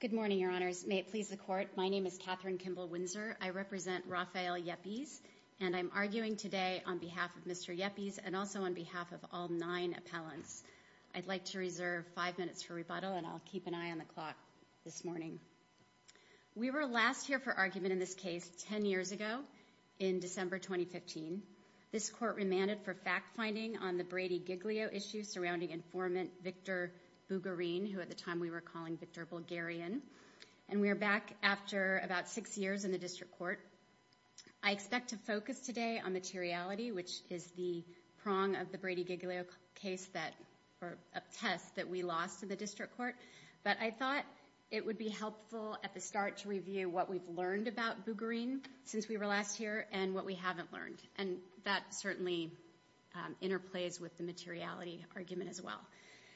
Good morning, Your Honors. May it please the Court, my name is Katherine Kimball Windsor. I represent Rafael Yepes, and I'm arguing today on behalf of Mr. Yepes and also on behalf of all nine appellants. I'd like to reserve five minutes for rebuttal and I'll keep an eye on the clock this morning. We were last here for argument in this case ten years ago in December 2015. This Court remanded for fact-finding on the Brady-Giglio issue surrounding informant Victor Bugarin, who at the time we were calling Victor Bulgarian. And we're back after about six years in the District Court. I expect to focus today on materiality, which is the prong of the Brady-Giglio case that, or a test that we lost in the District Court. But I thought it would be helpful at the start to review what we've learned about Bugarin since we were last here and what we haven't learned. And that certainly interplays with the materiality argument as well.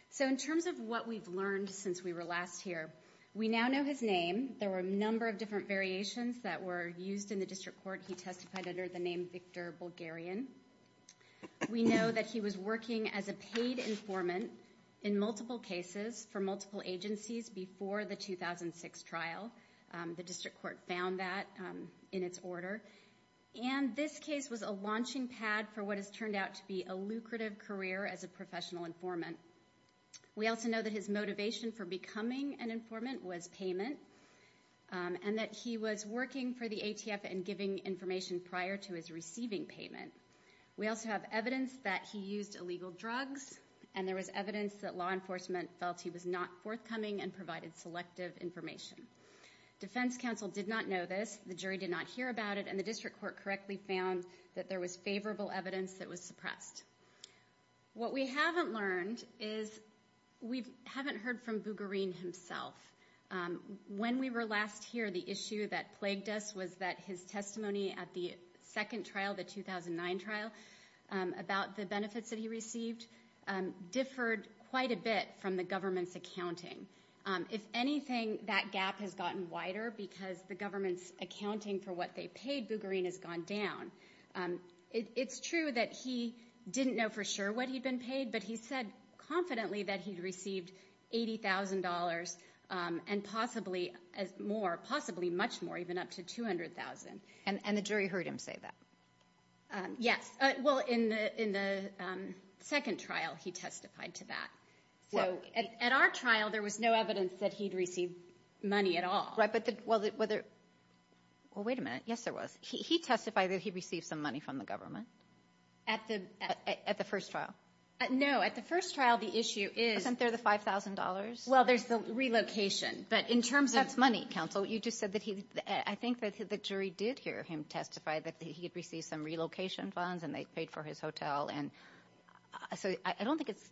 So in terms of what we've learned since we were last here, we now know his name. There were a number of different variations that were used in the District Court. He testified under the name Victor Bulgarian. We know that he was working as a paid informant in multiple cases for multiple agencies before the 2006 trial. The District Court found that in its order. And this case was a launching pad for what has turned out to be a lucrative career as a professional informant. We also know that his motivation for becoming an informant was payment. And that he was working for the ATF and giving information prior to his receiving payment. We also have evidence that he used illegal drugs. And there was evidence that law enforcement felt he was not forthcoming and provided selective information. Defense counsel did not know this. The jury did not hear about it. And the District Court correctly found that there was favorable evidence that he was suppressed. What we haven't learned is, we haven't heard from Bulgarian himself. When we were last here, the issue that plagued us was that his testimony at the second trial, the 2009 trial, about the benefits that he received, differed quite a bit from the government's accounting. If anything, that gap has gotten wider because the government's accounting for what they paid, Bulgarian, has gone down. It's true that he didn't know for sure what he'd been paid, but he said confidently that he'd received $80,000 and possibly more, possibly much more, even up to $200,000. And the jury heard him say that? Yes. Well, in the second trial, he testified to that. At our trial, there was no evidence that he'd received money at all. Well, wait a minute. Yes, there was. He testified that he'd received some money from the government? At the first trial? No. At the first trial, the issue is... Wasn't there the $5,000? Well, there's the relocation, but in terms of... That's money, counsel. You just said that he... I think that the jury did hear him testify that he had received some relocation funds and they paid for his hotel. So I don't think it's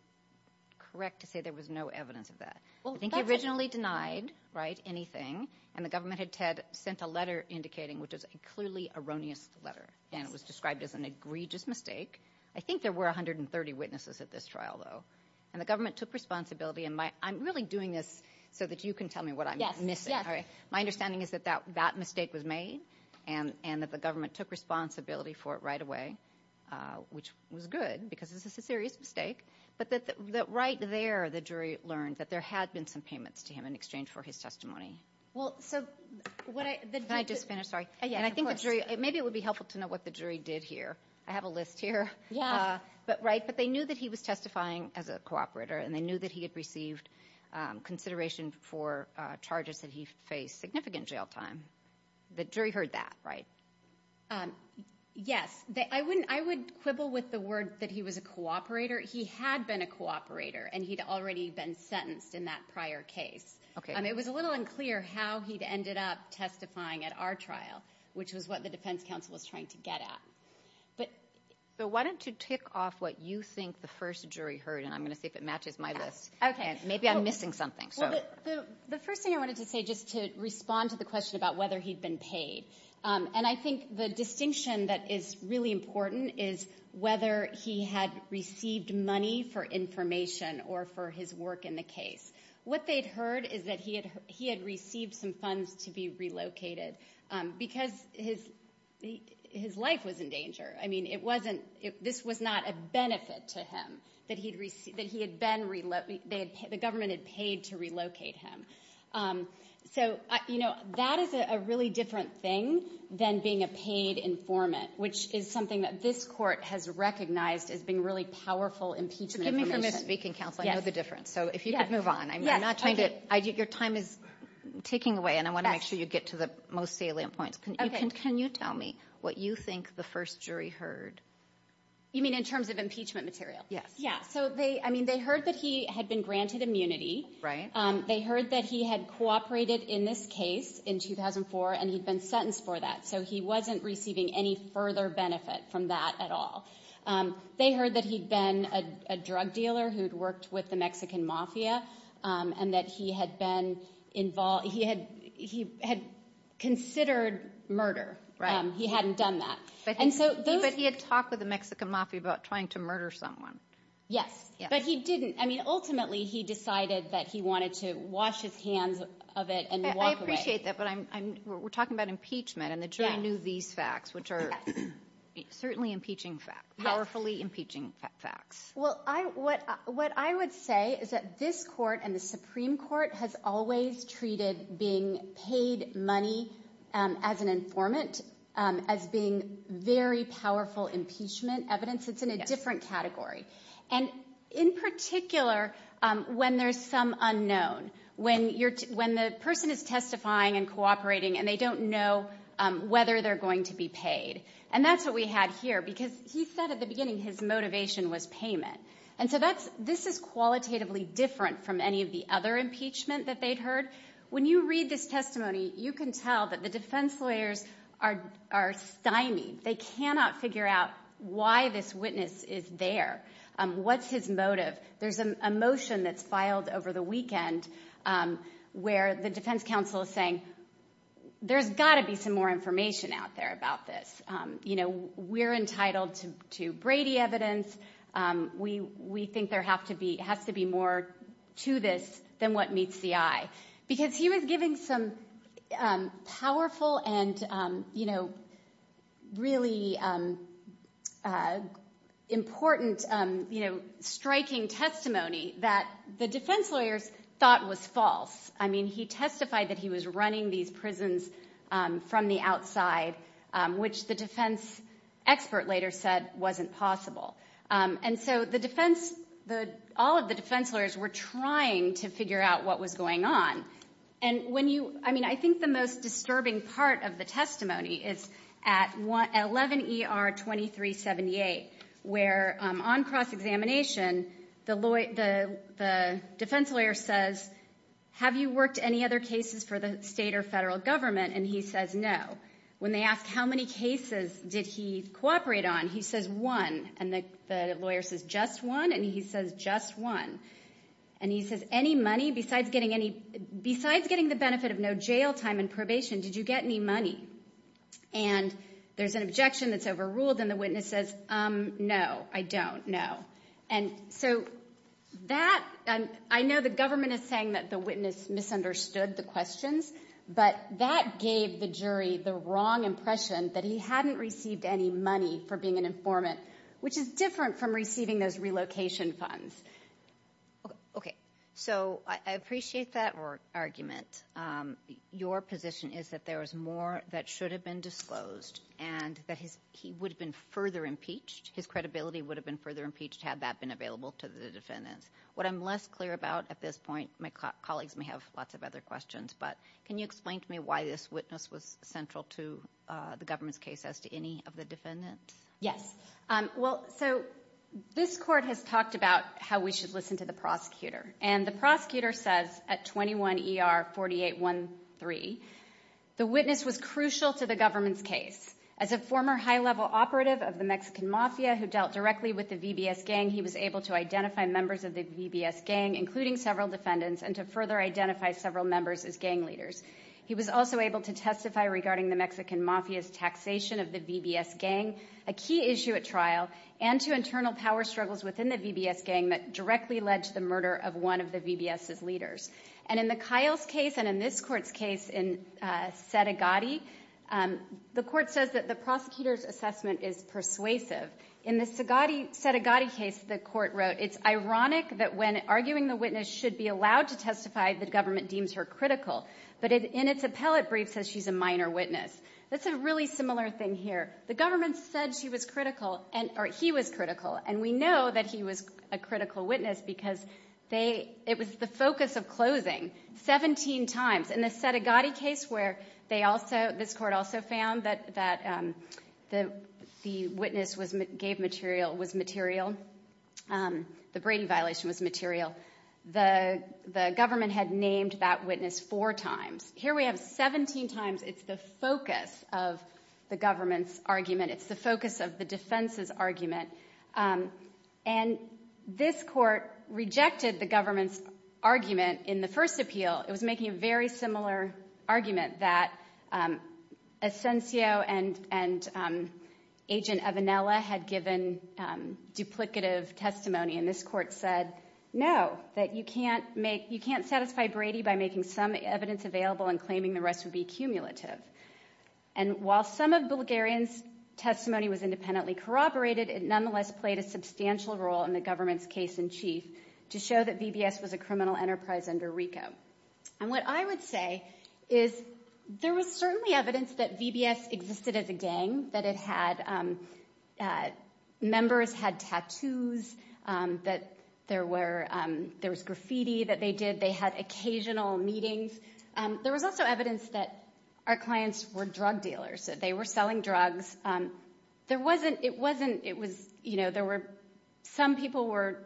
correct to say there was no evidence of that. I think he originally denied anything and the government had sent a letter indicating, which is a clearly erroneous letter, and it was described as an egregious mistake. I think there were 130 witnesses at this trial, though, and the government took responsibility. I'm really doing this so that you can tell me what I'm missing. My understanding is that that mistake was made and that the government took responsibility for it right away, which was good because this is a serious mistake, but that right there, the jury learned that there had been some payments to him in exchange for his testimony. Can I just finish? Sorry. And I think the jury... Maybe it would be helpful to know what the jury did hear. I have a list here. But they knew that he was testifying as a cooperator and they knew that he had received consideration for charges that he faced significant jail time. The jury heard that, right? Yes. I would quibble with the word that he was a cooperator. He had been a cooperator and he'd already been sentenced in that prior case. It was a little unclear how he'd ended up testifying at our trial, which was what the defense counsel was trying to get at. But why don't you tick off what you think the first jury heard and I'm going to see if it matches my list. Maybe I'm missing something. The first thing I wanted to say just to respond to the question about whether he'd been paid. And I think the distinction that is really important is whether he had received money for information or for his work in the case. What they'd heard is that he had received some funds to be relocated because his life was in danger. I mean, this was not a benefit to him that the government had paid to relocate him. So that is a really different thing than being a paid informant, which is something that this court has recognized as being really powerful impeachment information. Forgive me for misspeaking, counsel. I know the difference. So if you could move on. Your time is ticking away and I want to make sure you get to the most salient points. Can you tell me what you think the first jury heard? You mean in terms of impeachment material? Yes. Yeah. So they I mean, they heard that he had been granted immunity, right? They heard that he had cooperated in this case in 2004 and he'd been sentenced for that. So he wasn't receiving any further benefit from that at all. They heard that he'd been a drug dealer who'd worked with the Mexican Mafia and that he had been involved. He had he had considered murder, right? He hadn't done that. And so he had talked with the Mexican Mafia about trying to murder someone. Yes. But he didn't. I mean, ultimately, he decided that he wanted to wash his hands of it and I appreciate that. But I'm we're talking about impeachment and the jury knew these facts, which are certainly impeaching fact, powerfully impeaching facts. Well, I what what I would say is that this court and the Supreme Court has always treated being paid money as an informant as being very powerful impeachment evidence. It's in a different category. And in particular, when there's some unknown, when you're when the person is testifying and cooperating and they don't know whether they're going to be paid. And that's what we had here, because he said at the beginning his motivation was payment. And so that's this is qualitatively different from any of the other impeachment that they'd heard. When you read this testimony, you can tell that the defense lawyers are are stymied. They cannot figure out why this witness is there. What's his motive? There's a motion that's filed over the weekend where the defense counsel is saying there's got to be some more information out there about this. You know, we're entitled to to Brady evidence. We we think there have to be has to be more to this than what meets the eye, because he was giving some powerful and, you know, really important, you know, striking testimony that the defense lawyers thought was false. I mean, he testified that he was running these prisons from the outside, which the defense expert later said wasn't possible. And so the defense the all of the defense lawyers were trying to figure out what was going on. And when you I mean, I think the most disturbing part of the testimony is at 11 ER 2378, where on cross examination, the lawyer, the defense lawyer says, have you worked any other cases for the state or federal government? And he says no. When they ask how many cases did he cooperate on? He says one. And the lawyer says just one. And he says just one. And he says any money besides getting any besides getting the benefit of no jail time and probation. Did you get any money? And there's an objection that's overruled. And the witness says, no, I don't know. And so that I know the government is saying that the witness misunderstood the questions, but that gave the jury the wrong impression that he hadn't received any money for being an informant, which is different from receiving those relocation funds. Okay. So I appreciate that argument. Your position is that there was more that should have been disclosed and that he would have been further impeached. His credibility would have been further impeached had that been available to the defendants. What I'm less clear about at this point, my colleagues may have lots of other questions, but can you explain to me why this witness was central to the government's case as to any of the defendants? Yes. Well, so this court has talked about how we should listen to the prosecutor. And the prosecutor says at 21 ER 4813, the witness was crucial to the government's case. As a former high-level operative of the Mexican Mafia who dealt directly with the VBS gang, he was able to identify members of the VBS gang, including several defendants, and to further identify several members as gang leaders. He was also able to testify regarding the Mexican Mafia's taxation of the VBS gang, a key issue at trial, and to internal power struggles within the VBS gang that directly led to the murder of one of the VBS's leaders. And in the Kyle's case and in this court's case in Sedegatti, the court says that the court wrote, it's ironic that when arguing the witness should be allowed to testify, the government deems her critical. But in its appellate brief says she's a minor witness. That's a really similar thing here. The government said she was critical, or he was critical, and we know that he was a critical witness because it was the focus of closing 17 times. In the Sedegatti case where they also, this court also found that the witness gave material was material, the Brady violation was material, the government had named that witness four times. Here we have 17 times. It's the focus of the government's argument. It's the focus of the defense's argument. And this court rejected the government's argument in the first appeal. It was making a very similar argument that Asensio and Agent Evanella had given duplicative testimony. And this court said, no, that you can't satisfy Brady by making some evidence available and claiming the rest would be cumulative. And while some of Bulgarian's testimony was independently corroborated, it nonetheless played a substantial role in the government's case in chief to show that VBS was a criminal enterprise under RICO. And what I would say is there was certainly evidence that VBS existed as a gang, that it had, members had tattoos, that there were, there was graffiti that they did. They had occasional meetings. There was also evidence that our clients were drug dealers, that they were selling drugs. There wasn't, it wasn't, it was, you know, there were, some people were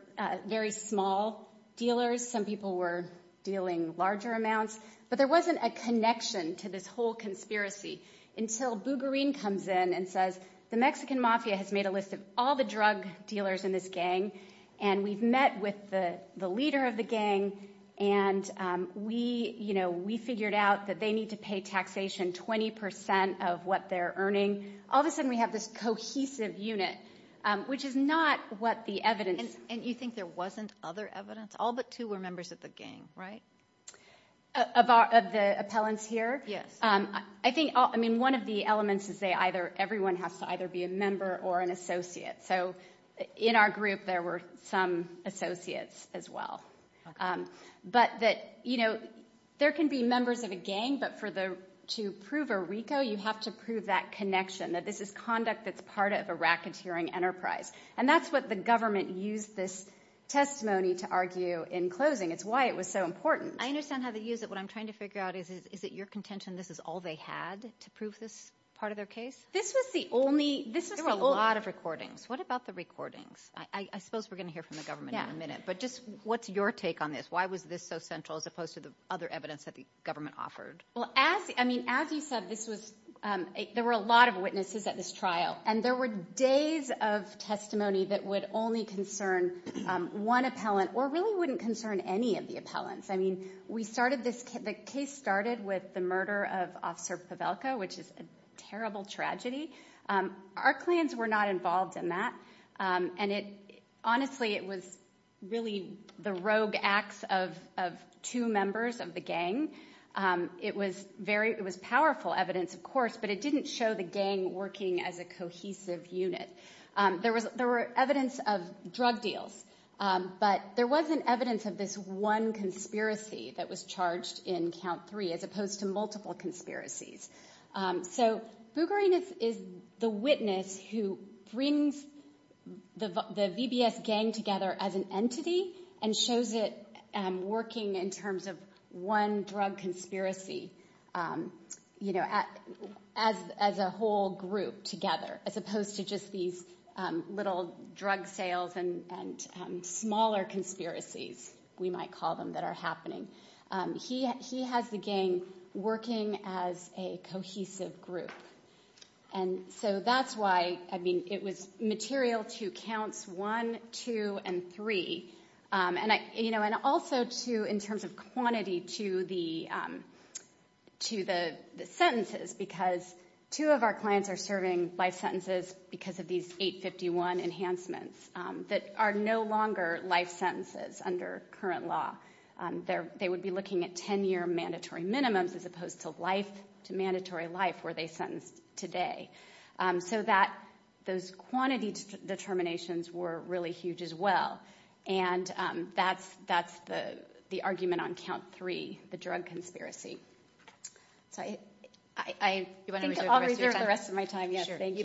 very small dealers. Some people were dealing larger amounts. But there wasn't a connection to this whole conspiracy until Bulgarian comes in and says, the Mexican Mafia has made a list of all the drug dealers in this gang, and we've met with the leader of the gang, and we, you know, we figured out that they need to pay taxation 20 percent of what they're earning. All of a sudden we have this cohesive unit, which is not what the evidence. And you think there wasn't other evidence? All but two were members of the gang, right? Of our, of the appellants here? Yes. I think, I mean, one of the elements is they either, everyone has to either be a member or an associate. So in our group there were some associates as well. But that, you know, there can be members of a gang, but for the, to prove a RICO, you have to prove that connection, that this is conduct that's part of a racketeering enterprise. And that's what the government used this testimony to argue in closing. It's why it was so important. I understand how they use it. What I'm trying to figure out is, is it your contention this is all they had to prove this part of their case? This was the only, this was the only- There were a lot of recordings. What about the recordings? I suppose we're going to hear from the government in a minute. But just what's your take on this? Why was this so central as opposed to the other evidence that the government offered? Well, as, I mean, as you said, this was, there were a lot of witnesses at this trial, and there were days of testimony that would only concern one appellant or really wouldn't concern any of the appellants. I mean, we started this, the case started with the murder of Officer Pavelka, which is a terrible tragedy. Our clans were not involved in that. And it, honestly, it was really the rogue acts of, of two members of the gang. It was very, it was powerful evidence, of course, but it didn't show the gang working as a cohesive unit. There was, there were evidence of drug deals, but there wasn't evidence of this one conspiracy that was charged in count three, as opposed to multiple conspiracies. So Bugarinus is the witness who brings the VBS gang together as an entity and shows it working in terms of one drug conspiracy, you know, as, as a whole group together, as opposed to just these little drug sales and, and smaller conspiracies, we might call them, that are happening. He, he has the gang working as a cohesive group. And so that's why, I mean, it was material to counts one, two, and three. And I, you know, and also to, in terms of quantity to the, to the, the sentences, because two of our clans are serving life sentences because of these 851 enhancements that are no longer life sentences under current law. They're, they would be looking at ten year mandatory minimums as opposed to life, to mandatory life where they sentenced today. So that, those quantity determinations were really huge as well. And that's, that's the, the argument on count three, the drug conspiracy. So I, I, I think I'll reserve the rest of my time. Yes, thank you.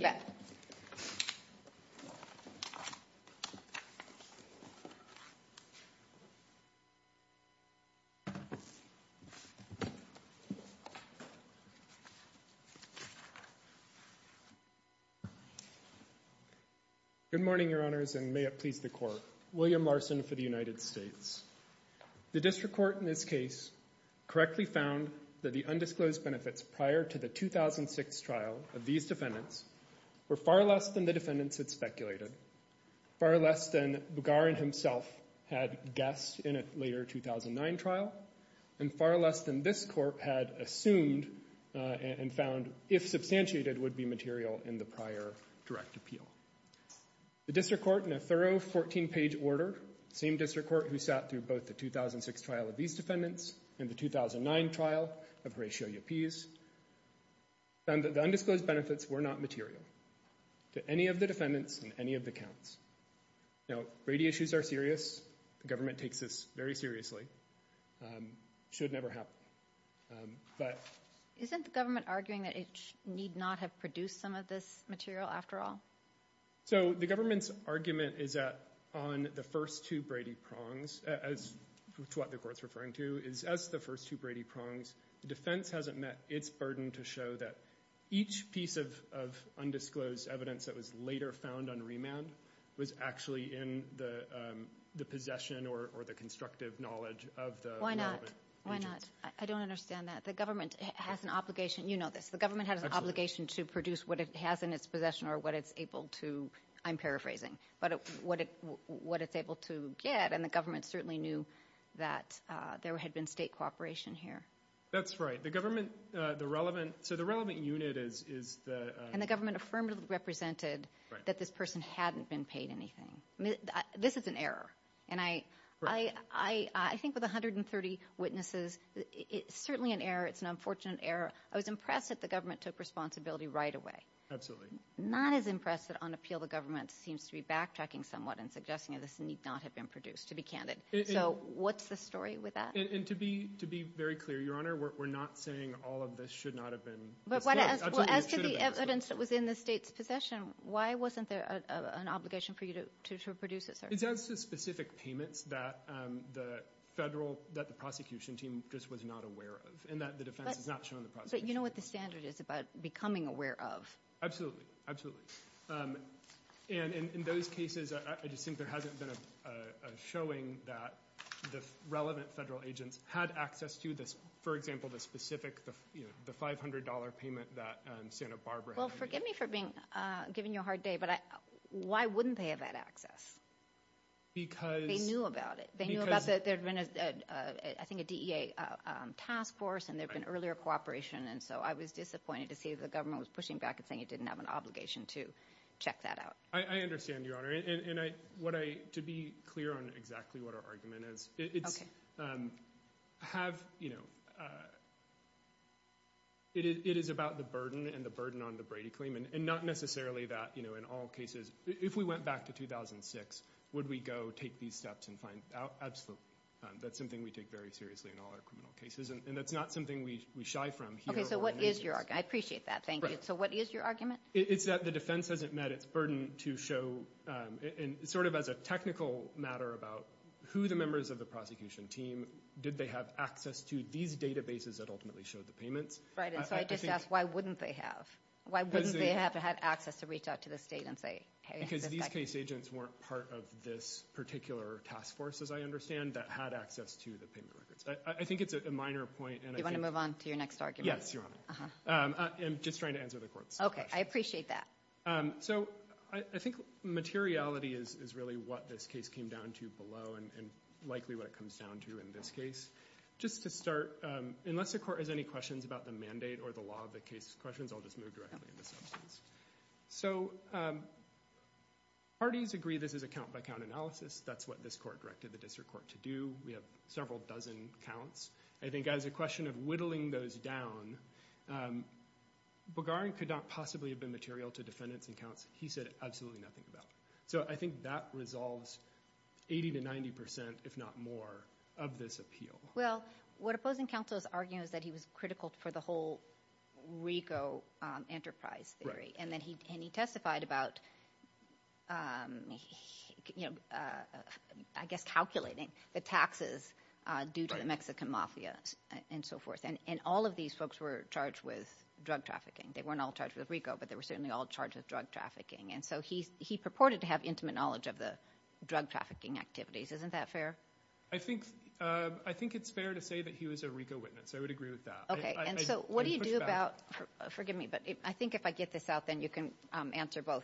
Good morning, your honors, and may it please the court. William Larson for the United States. The district court in this case correctly found that the undisclosed benefits prior to the 2006 trial of these defendants were far less than the defendants had speculated, far less than Bugarin himself had guessed in a later 2009 trial, and far less than this court had assumed and found, if substantiated, would be material in the prior direct appeal. The district court, in a thorough 14-page order, same district court who sat through both the 2006 trial of these defendants and the 2009 trial of Horatio Llapez, found that the undisclosed benefits were not material to any of the defendants and any of the counts. Now, Brady issues are serious. The government takes this very seriously. Should never happen. But... Isn't the government arguing that it need not have produced some of this material after all? So the government's argument is that on the first two Brady prongs, as to what the court's referring to, is as the first two Brady prongs, the defense hasn't met its burden to show that each piece of undisclosed evidence that was later found on remand was actually in the possession or the constructive knowledge of the development agents. Why not? Why not? I don't understand that. The government has an obligation, you know this, the government has an obligation to produce what it has in its possession or what it's able to, I'm paraphrasing, but what it's able to get, and the government certainly knew that there had been state cooperation here. That's right. The government, the relevant, so the relevant unit is the... And the government affirmatively represented that this person hadn't been paid anything. This is an error. And I think with 130 witnesses, it's certainly an error, it's an unfortunate error. I was impressed that the government took responsibility right away. Absolutely. Not as impressed that on appeal the government seems to be backtracking somewhat and suggesting that this need not have been produced, to be candid. So what's the story with that? And to be very clear, Your Honor, we're not saying all of this should not have been disclosed. Absolutely, it should have been disclosed. But as to the evidence that was in the state's possession, why wasn't there an obligation for you to produce it, sir? It's as to specific payments that the federal, that the prosecution team just was not aware of, and that the defense has not shown the prosecution team. But you know what the standard is about becoming aware of. Absolutely. Absolutely. And in those cases, I just think there hasn't been a showing that the relevant federal agents had access to this, for example, the specific, you know, the $500 payment that Santa Barbara had. Well, forgive me for being, giving you a hard day, but why wouldn't they have had access? Because... They knew about it. Because... They knew about the, there'd been a, I think a DEA task force, and there'd been earlier cooperation. And so I was disappointed to see the government was pushing back and saying it didn't have an obligation to check that out. I understand, Your Honor. And I, what I, to be clear on exactly what our argument is, it's have, you know, it is about the burden and the burden on the Brady claim, and not necessarily that, you know, in all cases, if we went back to 2006, would we go take these steps and find out? Absolutely. That's something we take very seriously in all our criminal cases. And that's not something we shy from here. Okay, so what is your argument? I appreciate that. Thank you. So what is your argument? It's that the defense hasn't met its burden to show, and sort of as a technical matter about who the members of the prosecution team, did they have access to these databases that ultimately showed the payments. Right, and so I just ask, why wouldn't they have? Why wouldn't they have had access to reach out to the state and say, hey, this is... Because these case agents weren't part of this particular task force, as I understand, that had access to the payment records. I think it's a minor point, and I think... You want to move on to your next argument? Yes, Your Honor. Uh-huh. I'm just trying to answer the court's question. Okay, I appreciate that. So I think materiality is really what this case came down to below, and likely what it comes down to in this case. Just to start, unless the court has any questions about the mandate or the law of the case questions, I'll just move directly into substance. So parties agree this is a count-by-count analysis. That's what this court directed the district court to do. We have several dozen counts. I think as a question of whittling those down, Bogarin could not possibly have been material to defendants and counts. He said absolutely nothing about it. So I think that resolves 80 to 90 percent, if not more, of this appeal. Well, what opposing counsel is arguing is that he was critical for the whole RICO enterprise theory. Right. And he testified about, I guess, calculating the taxes due to the Mexican mafia and so on. And all of these folks were charged with drug trafficking. They weren't all charged with RICO, but they were certainly all charged with drug trafficking. And so he purported to have intimate knowledge of the drug trafficking activities. Isn't that fair? I think it's fair to say that he was a RICO witness. I would agree with that. Okay, and so what do you do about, forgive me, but I think if I get this out, then you can answer both.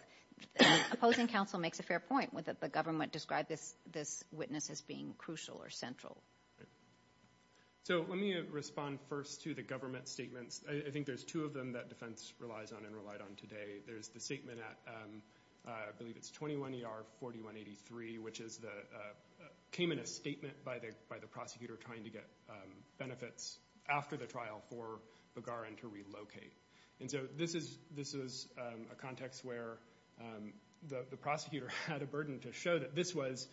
Opposing counsel makes a fair point with the government described this witness as being crucial or central. So let me respond first to the government statements. I think there's two of them that defense relies on and relied on today. There's the statement at, I believe it's 21 ER 4183, which came in a statement by the prosecutor trying to get benefits after the trial for Bagaran to relocate. And so this is a context where the prosecutor had a burden to show that this was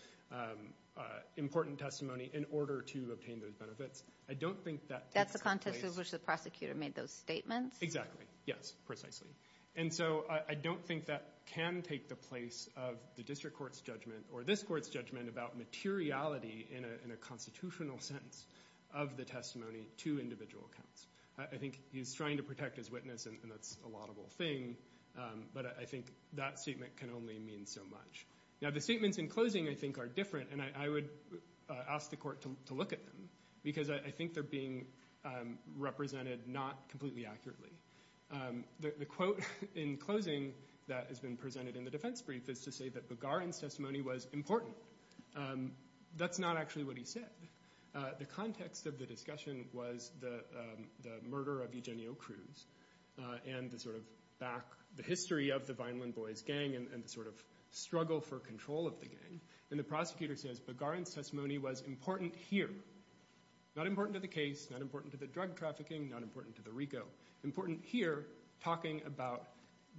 important testimony in order to obtain those benefits. I don't think that That's the context in which the prosecutor made those statements? Exactly. Yes, precisely. And so I don't think that can take the place of the district court's judgment or this court's judgment about materiality in a constitutional sense of the testimony to individual accounts. I think he's trying to protect his witness and that's a laudable thing, but I think that statement can only mean so much. Now the statements in closing I think are different and I would ask the court to look at them because I think they're being represented not completely accurately. The quote in closing that has been presented in the defense brief is to say that Bagaran's testimony was important. That's not actually what he said. The context of the discussion was the murder of Eugenio Cruz and the sort of history of the Vineland Boys gang and the sort of struggle for control of the gang. And the prosecutor says Bagaran's testimony was important here. Not important to the case, not important to the drug trafficking, not important to the RICO. Important here talking about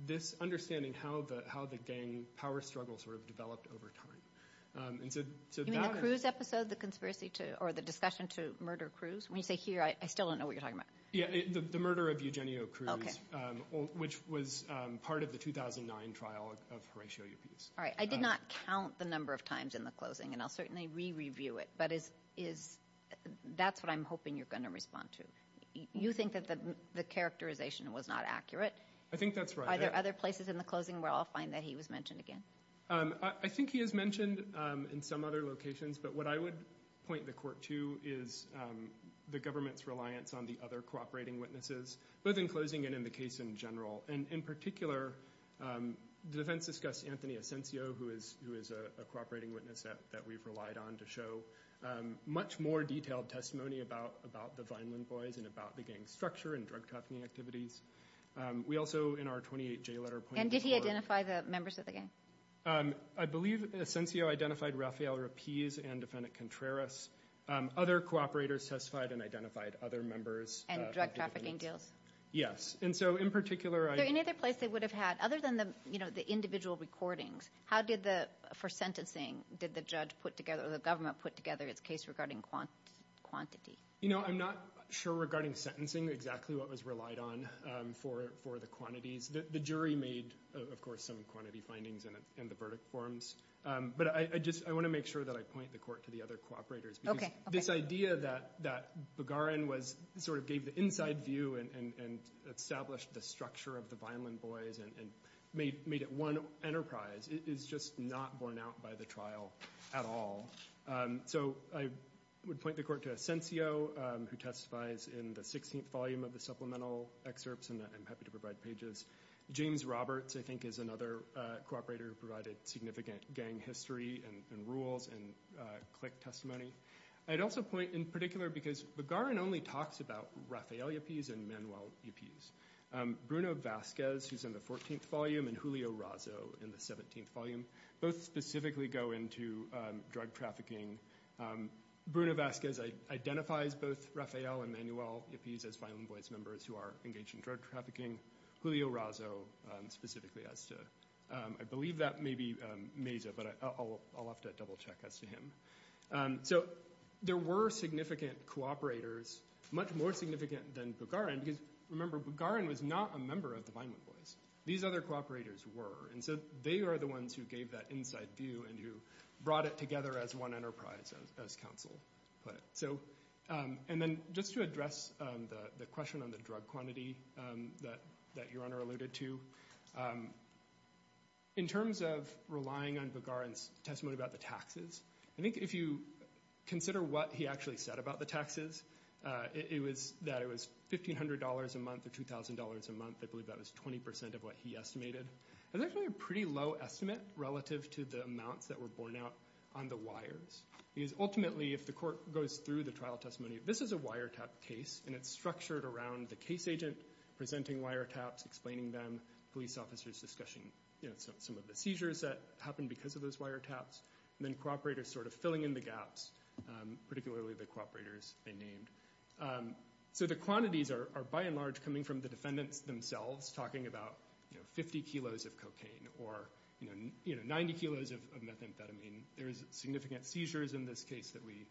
this understanding how the gang power struggle sort of developed over time. You mean the Cruz episode, the discussion to murder Cruz? When you say here, I still don't know what you're talking about. The murder of Eugenio Cruz, which was part of the 2009 trial of Horatio Upis. Alright, I did not count the number of times in the closing and I'll certainly re-review it, but that's what I'm hoping you're going to respond to. You think that the characterization was not accurate? I think that's right. Are there other places in the closing where I'll find that he was mentioned again? I think he is mentioned in some other locations, but what I would point the court to is the government's reliance on the other cooperating witnesses, both in closing and in the case in general. And in particular, the defense discussed Anthony Asensio, who is a cooperating witness that we've relied on to show much more detailed testimony about the Vineland boys and about the gang structure and drug trafficking activities. We also, in our 28J letter... And did he identify the members of the gang? I believe Asensio identified Rafael Rapiz and defendant Contreras. Other cooperators testified and identified other members... And drug trafficking deals? Yes. And so in particular... Is there any other place they would have had, other than the individual recordings, how did the, for sentencing, did the judge put together or the government put together its case regarding quantity? You know, I'm not sure regarding sentencing exactly what was relied on for the quantities. The jury made, of course, some quantity findings in the verdict forms. But I just want to make sure that I point the court to the other cooperators. Okay. This idea that Begarin sort of gave the inside view and established the structure of the Vineland boys and made it one enterprise is just not borne out by the trial at all. So I would point the court to Asensio, who testifies in the 16th volume of the supplemental excerpts and I'm happy to provide pages. James Roberts, I think, is another cooperator who provided significant gang history and rules and click testimony. I'd also point in particular because Begarin only talks about Rafael Ipiz and Manuel Ipiz. Bruno Vazquez, who's in the 14th volume, and Julio Razo in the 17th volume, both specifically go into drug trafficking. Bruno Vazquez identifies both Rafael and Manuel Ipiz as Vineland boys members who are engaged in drug trafficking. Julio Razo specifically as to... I believe that may be Meza, but I'll have to double check as to him. So there were significant cooperators, much more significant than Begarin, because remember Begarin was not a member of the Vineland boys. These other cooperators were. And so they are the ones who gave that inside view and who brought it together as one enterprise, as counsel put it. And then just to address the question on the drug quantity that your Honor alluded to, in terms of relying on Begarin's testimony about the taxes, I think if you consider what he actually said about the taxes, that it was $1,500 a month or $2,000 a month. I believe that was 20% of what he estimated. That's actually a pretty low estimate relative to the amounts that were borne out on the wires. Because ultimately if the court goes through the trial testimony, this is a wiretap case and it's structured around the case agent presenting wiretaps, explaining them, police officers discussing some of the seizures that happened because of those wiretaps, and then cooperators sort of filling in the gaps, particularly the cooperators they named. So the quantities are by and large coming from the defendants themselves talking about 50 kilos of cocaine or 90 kilos of methamphetamine. There's significant seizures in this case that we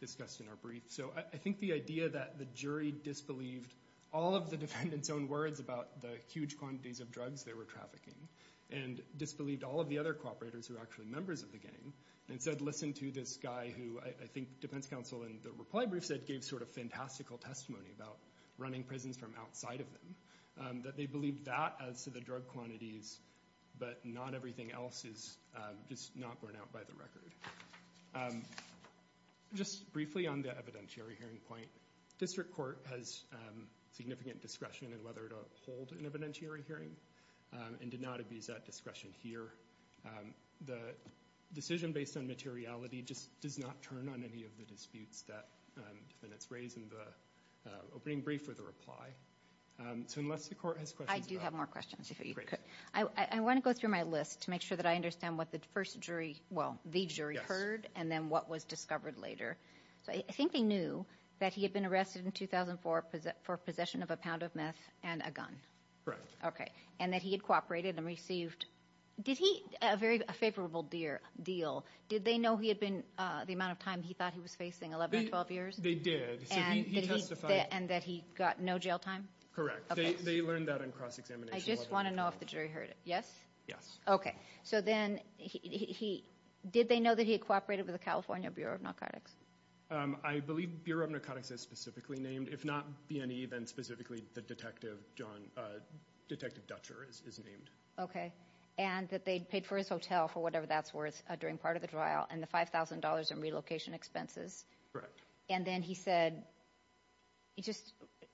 discussed in our brief. So I think the idea that the jury disbelieved all of the defendants' own words about the huge quantities of drugs they were trafficking, and disbelieved all of the other cooperators who were actually members of the gang, and said listen to this guy who I think defense counsel in the reply brief said gave sort of fantastical testimony about running prisons from outside of them, that they believed that as to the drug quantities, but not everything else is just not borne out by the record. Just briefly on the evidentiary hearing point, district court has significant discretion in whether to hold an evidentiary hearing and did not abuse that discretion here. The decision based on materiality just does not turn on any of the disputes that defendants raise in the opening brief or the reply. So unless the court has questions about it. I do have more questions if you could. I want to go through my list to make sure that I understand what the first jury, well the jury heard, and then what was discovered later. I think they knew that he had been arrested in 2004 for possession of a pound of meth and a gun. Correct. Okay. And that he had cooperated and received, did he, a very favorable deal, did they know he had been, the amount of time he thought he was facing, 11 or 12 years? They did. And that he got no jail time? Correct. They learned that in cross-examination. I just want to know if the jury heard it. Yes? Yes. Okay. So then he, did they know that he had cooperated with the California Bureau of Narcotics? I believe Bureau of Narcotics is specifically named. If not BNE, then specifically the detective John, Detective Dutcher is named. Okay. And that they paid for his hotel for whatever that's worth during part of the trial and the $5,000 in relocation expenses. Correct. And then he said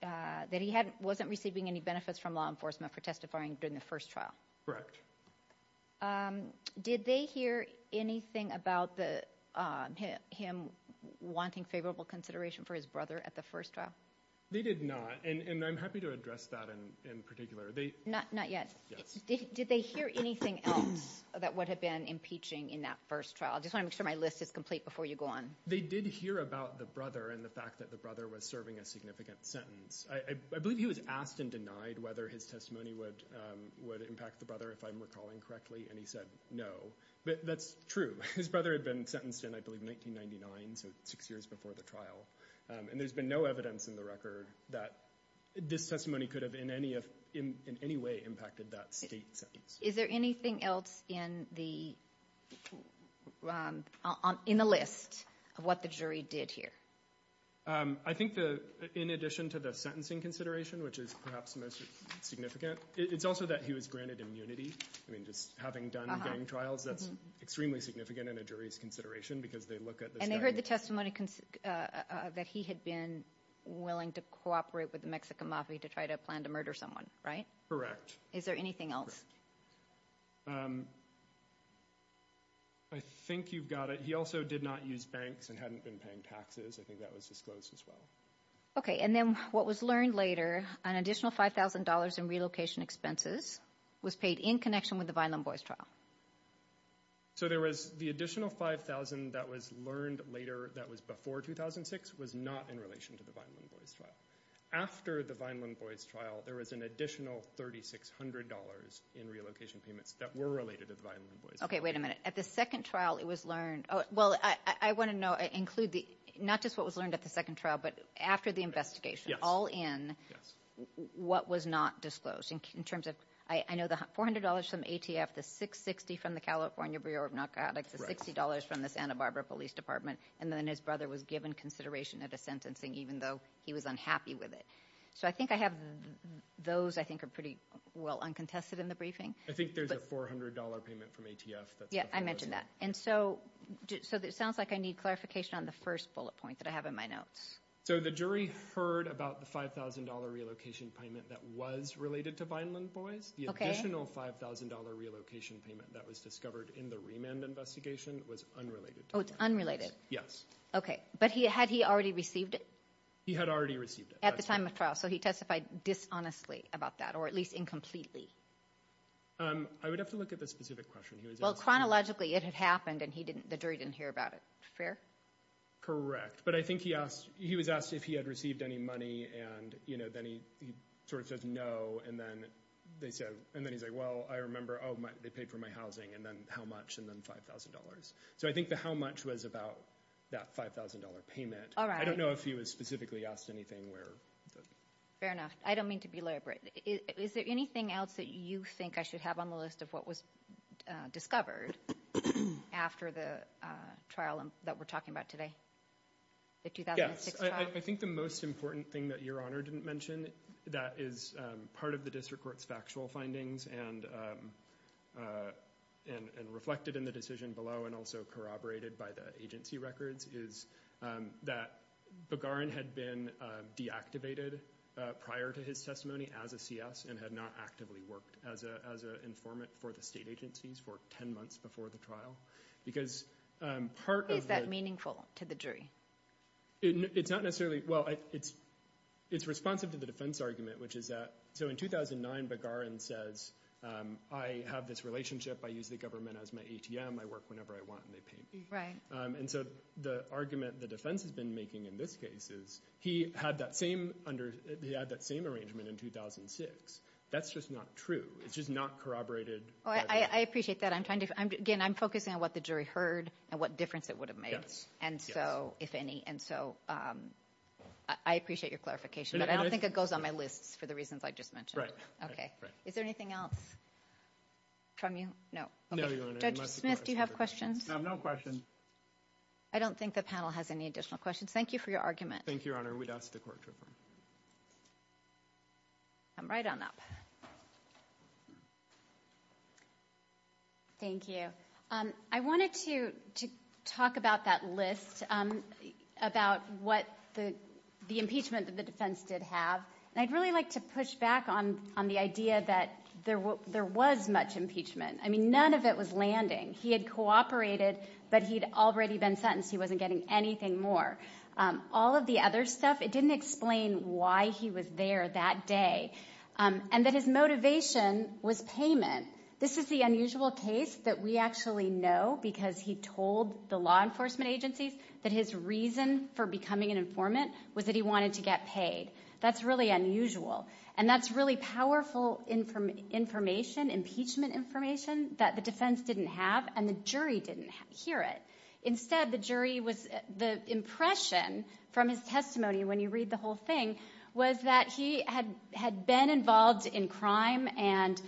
that he wasn't receiving any benefits from law enforcement for testifying during the first trial. Correct. Did they hear anything about him wanting favorable consideration for his brother at the first trial? They did not. And I'm happy to address that in particular. Not yet. Yes. Did they hear anything else about what had been impeaching in that first trial? I just want to make sure my list is complete before you go on. They did hear about the brother and the fact that the brother was serving a significant sentence. I believe he was asked and denied whether his testimony would impact the brother, if I'm recalling correctly, and he said no. But that's true. His brother had been sentenced in, I believe, 1999, so six years before the trial. And there's been no evidence in the record that this testimony could have in any way impacted that state sentence. Is there anything else in the list of what the jury did here? I think in addition to the sentencing consideration, which is perhaps the most significant, it's also that he was granted immunity. I mean, just having done gang trials, that's extremely significant in a jury's consideration because they look at this guy. And they heard the testimony that he had been willing to cooperate with the Mexican mafia to try to plan to murder someone, right? Correct. Is there anything else? I think you've got it. He also did not use banks and hadn't been paying taxes. I think that was disclosed as well. Okay. And then what was learned later, an additional $5,000 in relocation expenses was paid in connection with the Vineland Boys trial. So there was the additional $5,000 that was learned later that was before 2006 was not in relation to the Vineland Boys trial. After the Vineland Boys trial, there was an additional $3,600 in relocation payments that were related to the Vineland Boys trial. Okay, wait a minute. At the second trial, it was learned. Well, I want to include not just what was learned at the second trial, but after the investigation, all in, what was not disclosed. I know the $400 from ATF, the $660 from the California Bureau of Narcotics, the $60 from the Santa Barbara Police Department, and then his brother was given consideration at a sentencing even though he was unhappy with it. So I think I have those I think are pretty well uncontested in the briefing. I think there's a $400 payment from ATF that's not disclosed. Yeah, I mentioned that. And so it sounds like I need clarification on the first bullet point that I have in my notes. So the jury heard about the $5,000 relocation payment that was related to Vineland Boys. The additional $5,000 relocation payment that was discovered in the remand investigation was unrelated to the Vineland Boys. Oh, it's unrelated. Yes. Okay. But had he already received it? He had already received it. At the time of trial. So he testified dishonestly about that, or at least incompletely. I would have to look at the specific question. Well, chronologically, it had happened, and the jury didn't hear about it. Fair? Correct. But I think he was asked if he had received any money, and then he sort of says no, and then he's like, well, I remember, oh, they paid for my housing, and then how much, and then $5,000. So I think the how much was about that $5,000 payment. All right. I don't know if he was specifically asked anything where. Fair enough. I don't mean to be elaborate. Is there anything else that you think I should have on the list of what was discovered after the trial that we're talking about today, the 2006 trial? Yes. I think the most important thing that Your Honor didn't mention, that is part of the district court's factual findings and reflected in the decision below and also corroborated by the agency records, is that Begarin had been deactivated prior to his testimony as a CS and had not actively worked as an informant for the state agencies for 10 months before the trial. Is that meaningful to the jury? It's not necessarily. Well, it's responsive to the defense argument, which is that, so in 2009, Begarin says, I have this relationship. I use the government as my ATM. I work whenever I want, and they pay me. Right. And so the argument the defense has been making in this case is he had that same arrangement in 2006. That's just not true. It's just not corroborated. I appreciate that. Again, I'm focusing on what the jury heard and what difference it would have made. Yes. And so, if any, and so I appreciate your clarification, but I don't think it goes on my list for the reasons I just mentioned. Okay. Is there anything else from you? Judge Smith, do you have questions? No questions. I don't think the panel has any additional questions. Thank you for your argument. Thank you, Your Honor. We'd ask the court to confirm. I'm right on up. Thank you. I wanted to talk about that list, about what the impeachment that the defense did have, and I'd really like to push back on the idea that there was much impeachment. I mean, none of it was landing. He had cooperated, but he'd already been sentenced. He wasn't getting anything more. All of the other stuff, it didn't explain why he was there that day, and that his motivation was payment. This is the unusual case that we actually know, because he told the law enforcement agencies that his reason for becoming an informant was that he wanted to get paid. That's really unusual, and that's really powerful information, impeachment information, that the defense didn't have, and the jury didn't hear it. Instead, the jury was, the impression from his testimony, when you read the whole thing, was that he had been involved in crime and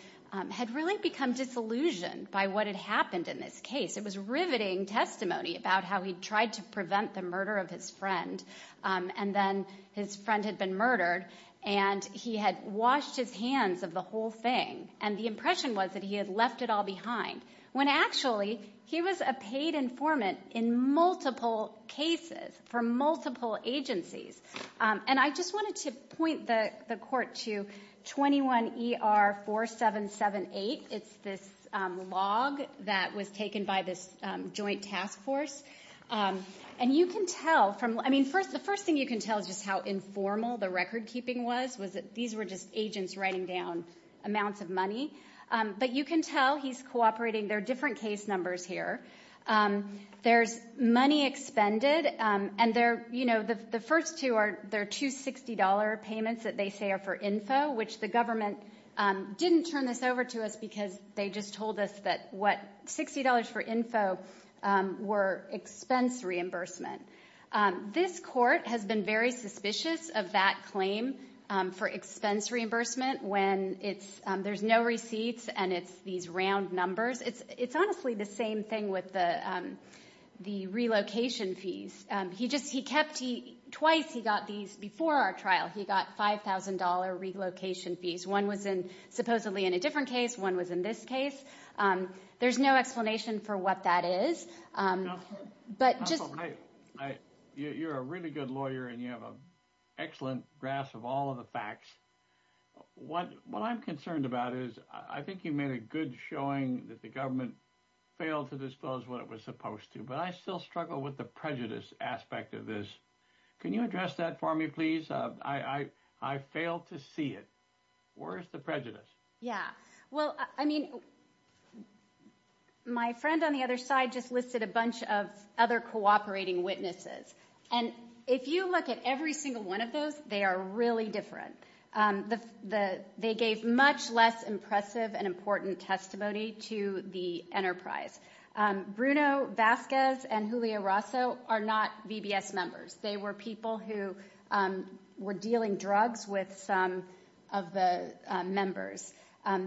had really become disillusioned by what had happened in this case. It was riveting testimony about how he tried to prevent the murder of his friend, and then his friend had been murdered, and he had washed his hands of the whole thing, and the impression was that he had left it all behind, when actually he was a paid informant in multiple cases for multiple agencies. I just wanted to point the court to 21ER4778. It's this log that was taken by this joint task force. The first thing you can tell is just how informal the record-keeping was. These were just agents writing down amounts of money. But you can tell he's cooperating. There are different case numbers here. There's money expended. The first two are $260 payments that they say are for info, which the government didn't turn this over to us because they just told us that $60 for info were expense reimbursement. This court has been very suspicious of that claim for expense reimbursement, when there's no receipts and it's these round numbers. It's honestly the same thing with the relocation fees. Twice he got these before our trial. He got $5,000 relocation fees. One was supposedly in a different case. One was in this case. There's no explanation for what that is. You're a really good lawyer, and you have an excellent grasp of all of the facts. What I'm concerned about is I think you made a good showing that the government failed to disclose what it was supposed to, but I still struggle with the prejudice aspect of this. Can you address that for me, please? I failed to see it. Where's the prejudice? Yeah. Well, I mean, my friend on the other side just listed a bunch of other cooperating witnesses. And if you look at every single one of those, they are really different. They gave much less impressive and important testimony to the enterprise. Bruno Vasquez and Julio Rosso are not VBS members. They were people who were dealing drugs with some of the members.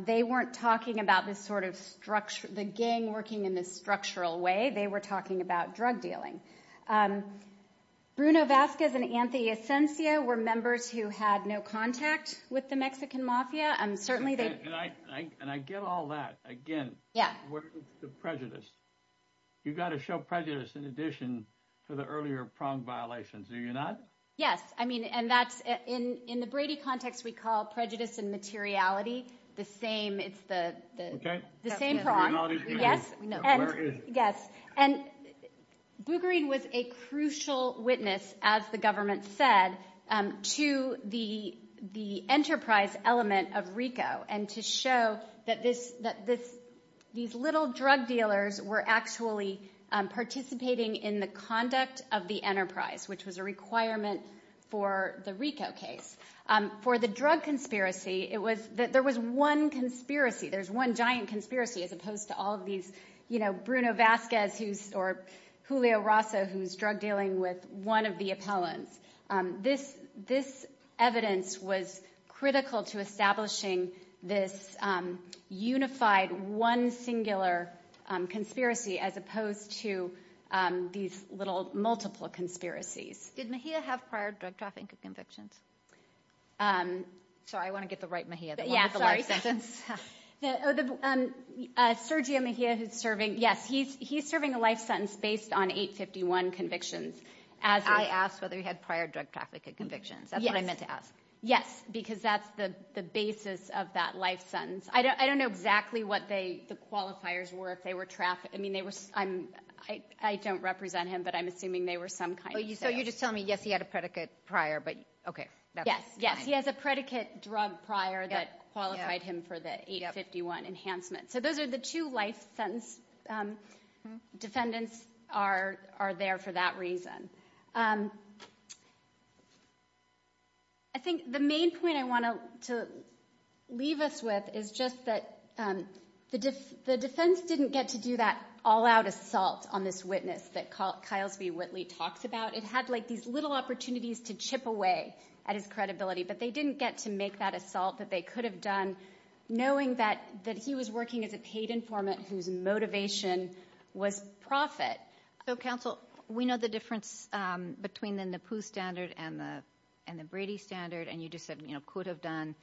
They weren't talking about the gang working in this structural way. They were talking about drug dealing. Bruno Vasquez and Anthony Asensio were members who had no contact with the Mexican mafia. And I get all that. Again, where's the prejudice? You've got to show prejudice in addition to the earlier prong violations. Do you not? Yes. I mean, in the Brady context, we call prejudice and materiality the same. It's the same prong. Where is it? Yes. And Bouguered was a crucial witness, as the government said, to the enterprise element of RICO and to show that these little drug dealers were actually participating in the conduct of the enterprise, which was a requirement for the RICO case. For the drug conspiracy, there was one conspiracy. There's one giant conspiracy as opposed to all of these Bruno Vasquez or Julio Rosso, who's drug dealing with one of the appellants. This evidence was critical to establishing this unified one singular conspiracy as opposed to these little multiple conspiracies. Did Mejia have prior drug trafficking convictions? Sorry, I want to get the right Mejia. Yeah, sorry. Sergio Mejia who's serving, yes, he's serving a life sentence based on 851 convictions. I asked whether he had prior drug trafficking convictions. That's what I meant to ask. Yes, because that's the basis of that life sentence. I don't know exactly what the qualifiers were, if they were trafficked. I mean, I don't represent him, but I'm assuming they were some kind of sales. So you're just telling me, yes, he had a predicate prior, but okay. Yes, yes. He has a predicate drug prior that qualified him for the 851 enhancement. So those are the two life sentence defendants are there for that reason. I think the main point I want to leave us with is just that the defense didn't get to do that all-out assault on this witness that Kyles B. Whitley talks about. It had like these little opportunities to chip away at his credibility, but they didn't get to make that assault that they could have done knowing that he was working as a paid informant whose motivation was profit. So, counsel, we know the difference between the NAPU standard and the Brady standard, and you just said could have done.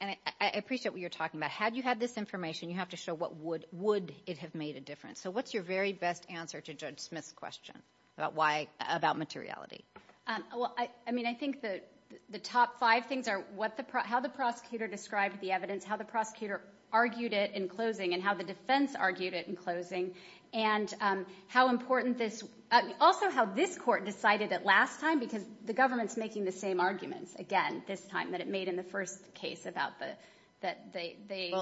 And I appreciate what you're talking about. Had you had this information, you have to show what would it have made a difference. So what's your very best answer to Judge Smith's question about materiality? I mean, I think the top five things are how the prosecutor described the evidence, how the prosecutor argued it in closing, and how the defense argued it in closing, and also how this court decided it last time because the government's making the same arguments, again, this time, that it made in the first case. Well,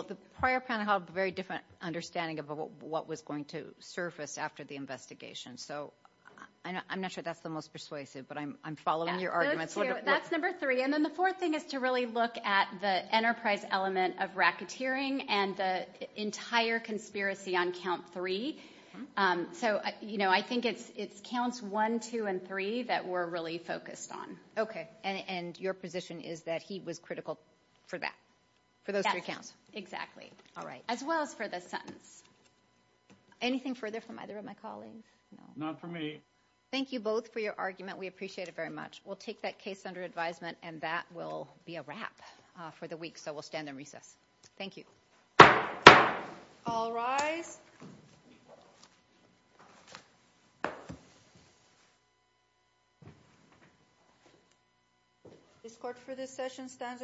the prior panel had a very different understanding of what was going to surface after the investigation. So I'm not sure that's the most persuasive, but I'm following your arguments. That's number three. And then the fourth thing is to really look at the enterprise element of racketeering and the entire conspiracy on count three. So, you know, I think it's counts one, two, and three that we're really focused on. Okay, and your position is that he was critical for that, for those three counts? Yes, exactly. All right. As well as for the sentence. Anything further from either of my colleagues? No. Not for me. Thank you both for your argument. We appreciate it very much. We'll take that case under advisement, and that will be a wrap for the week. So we'll stand in recess. Thank you. All rise. This court for this session stands adjourned.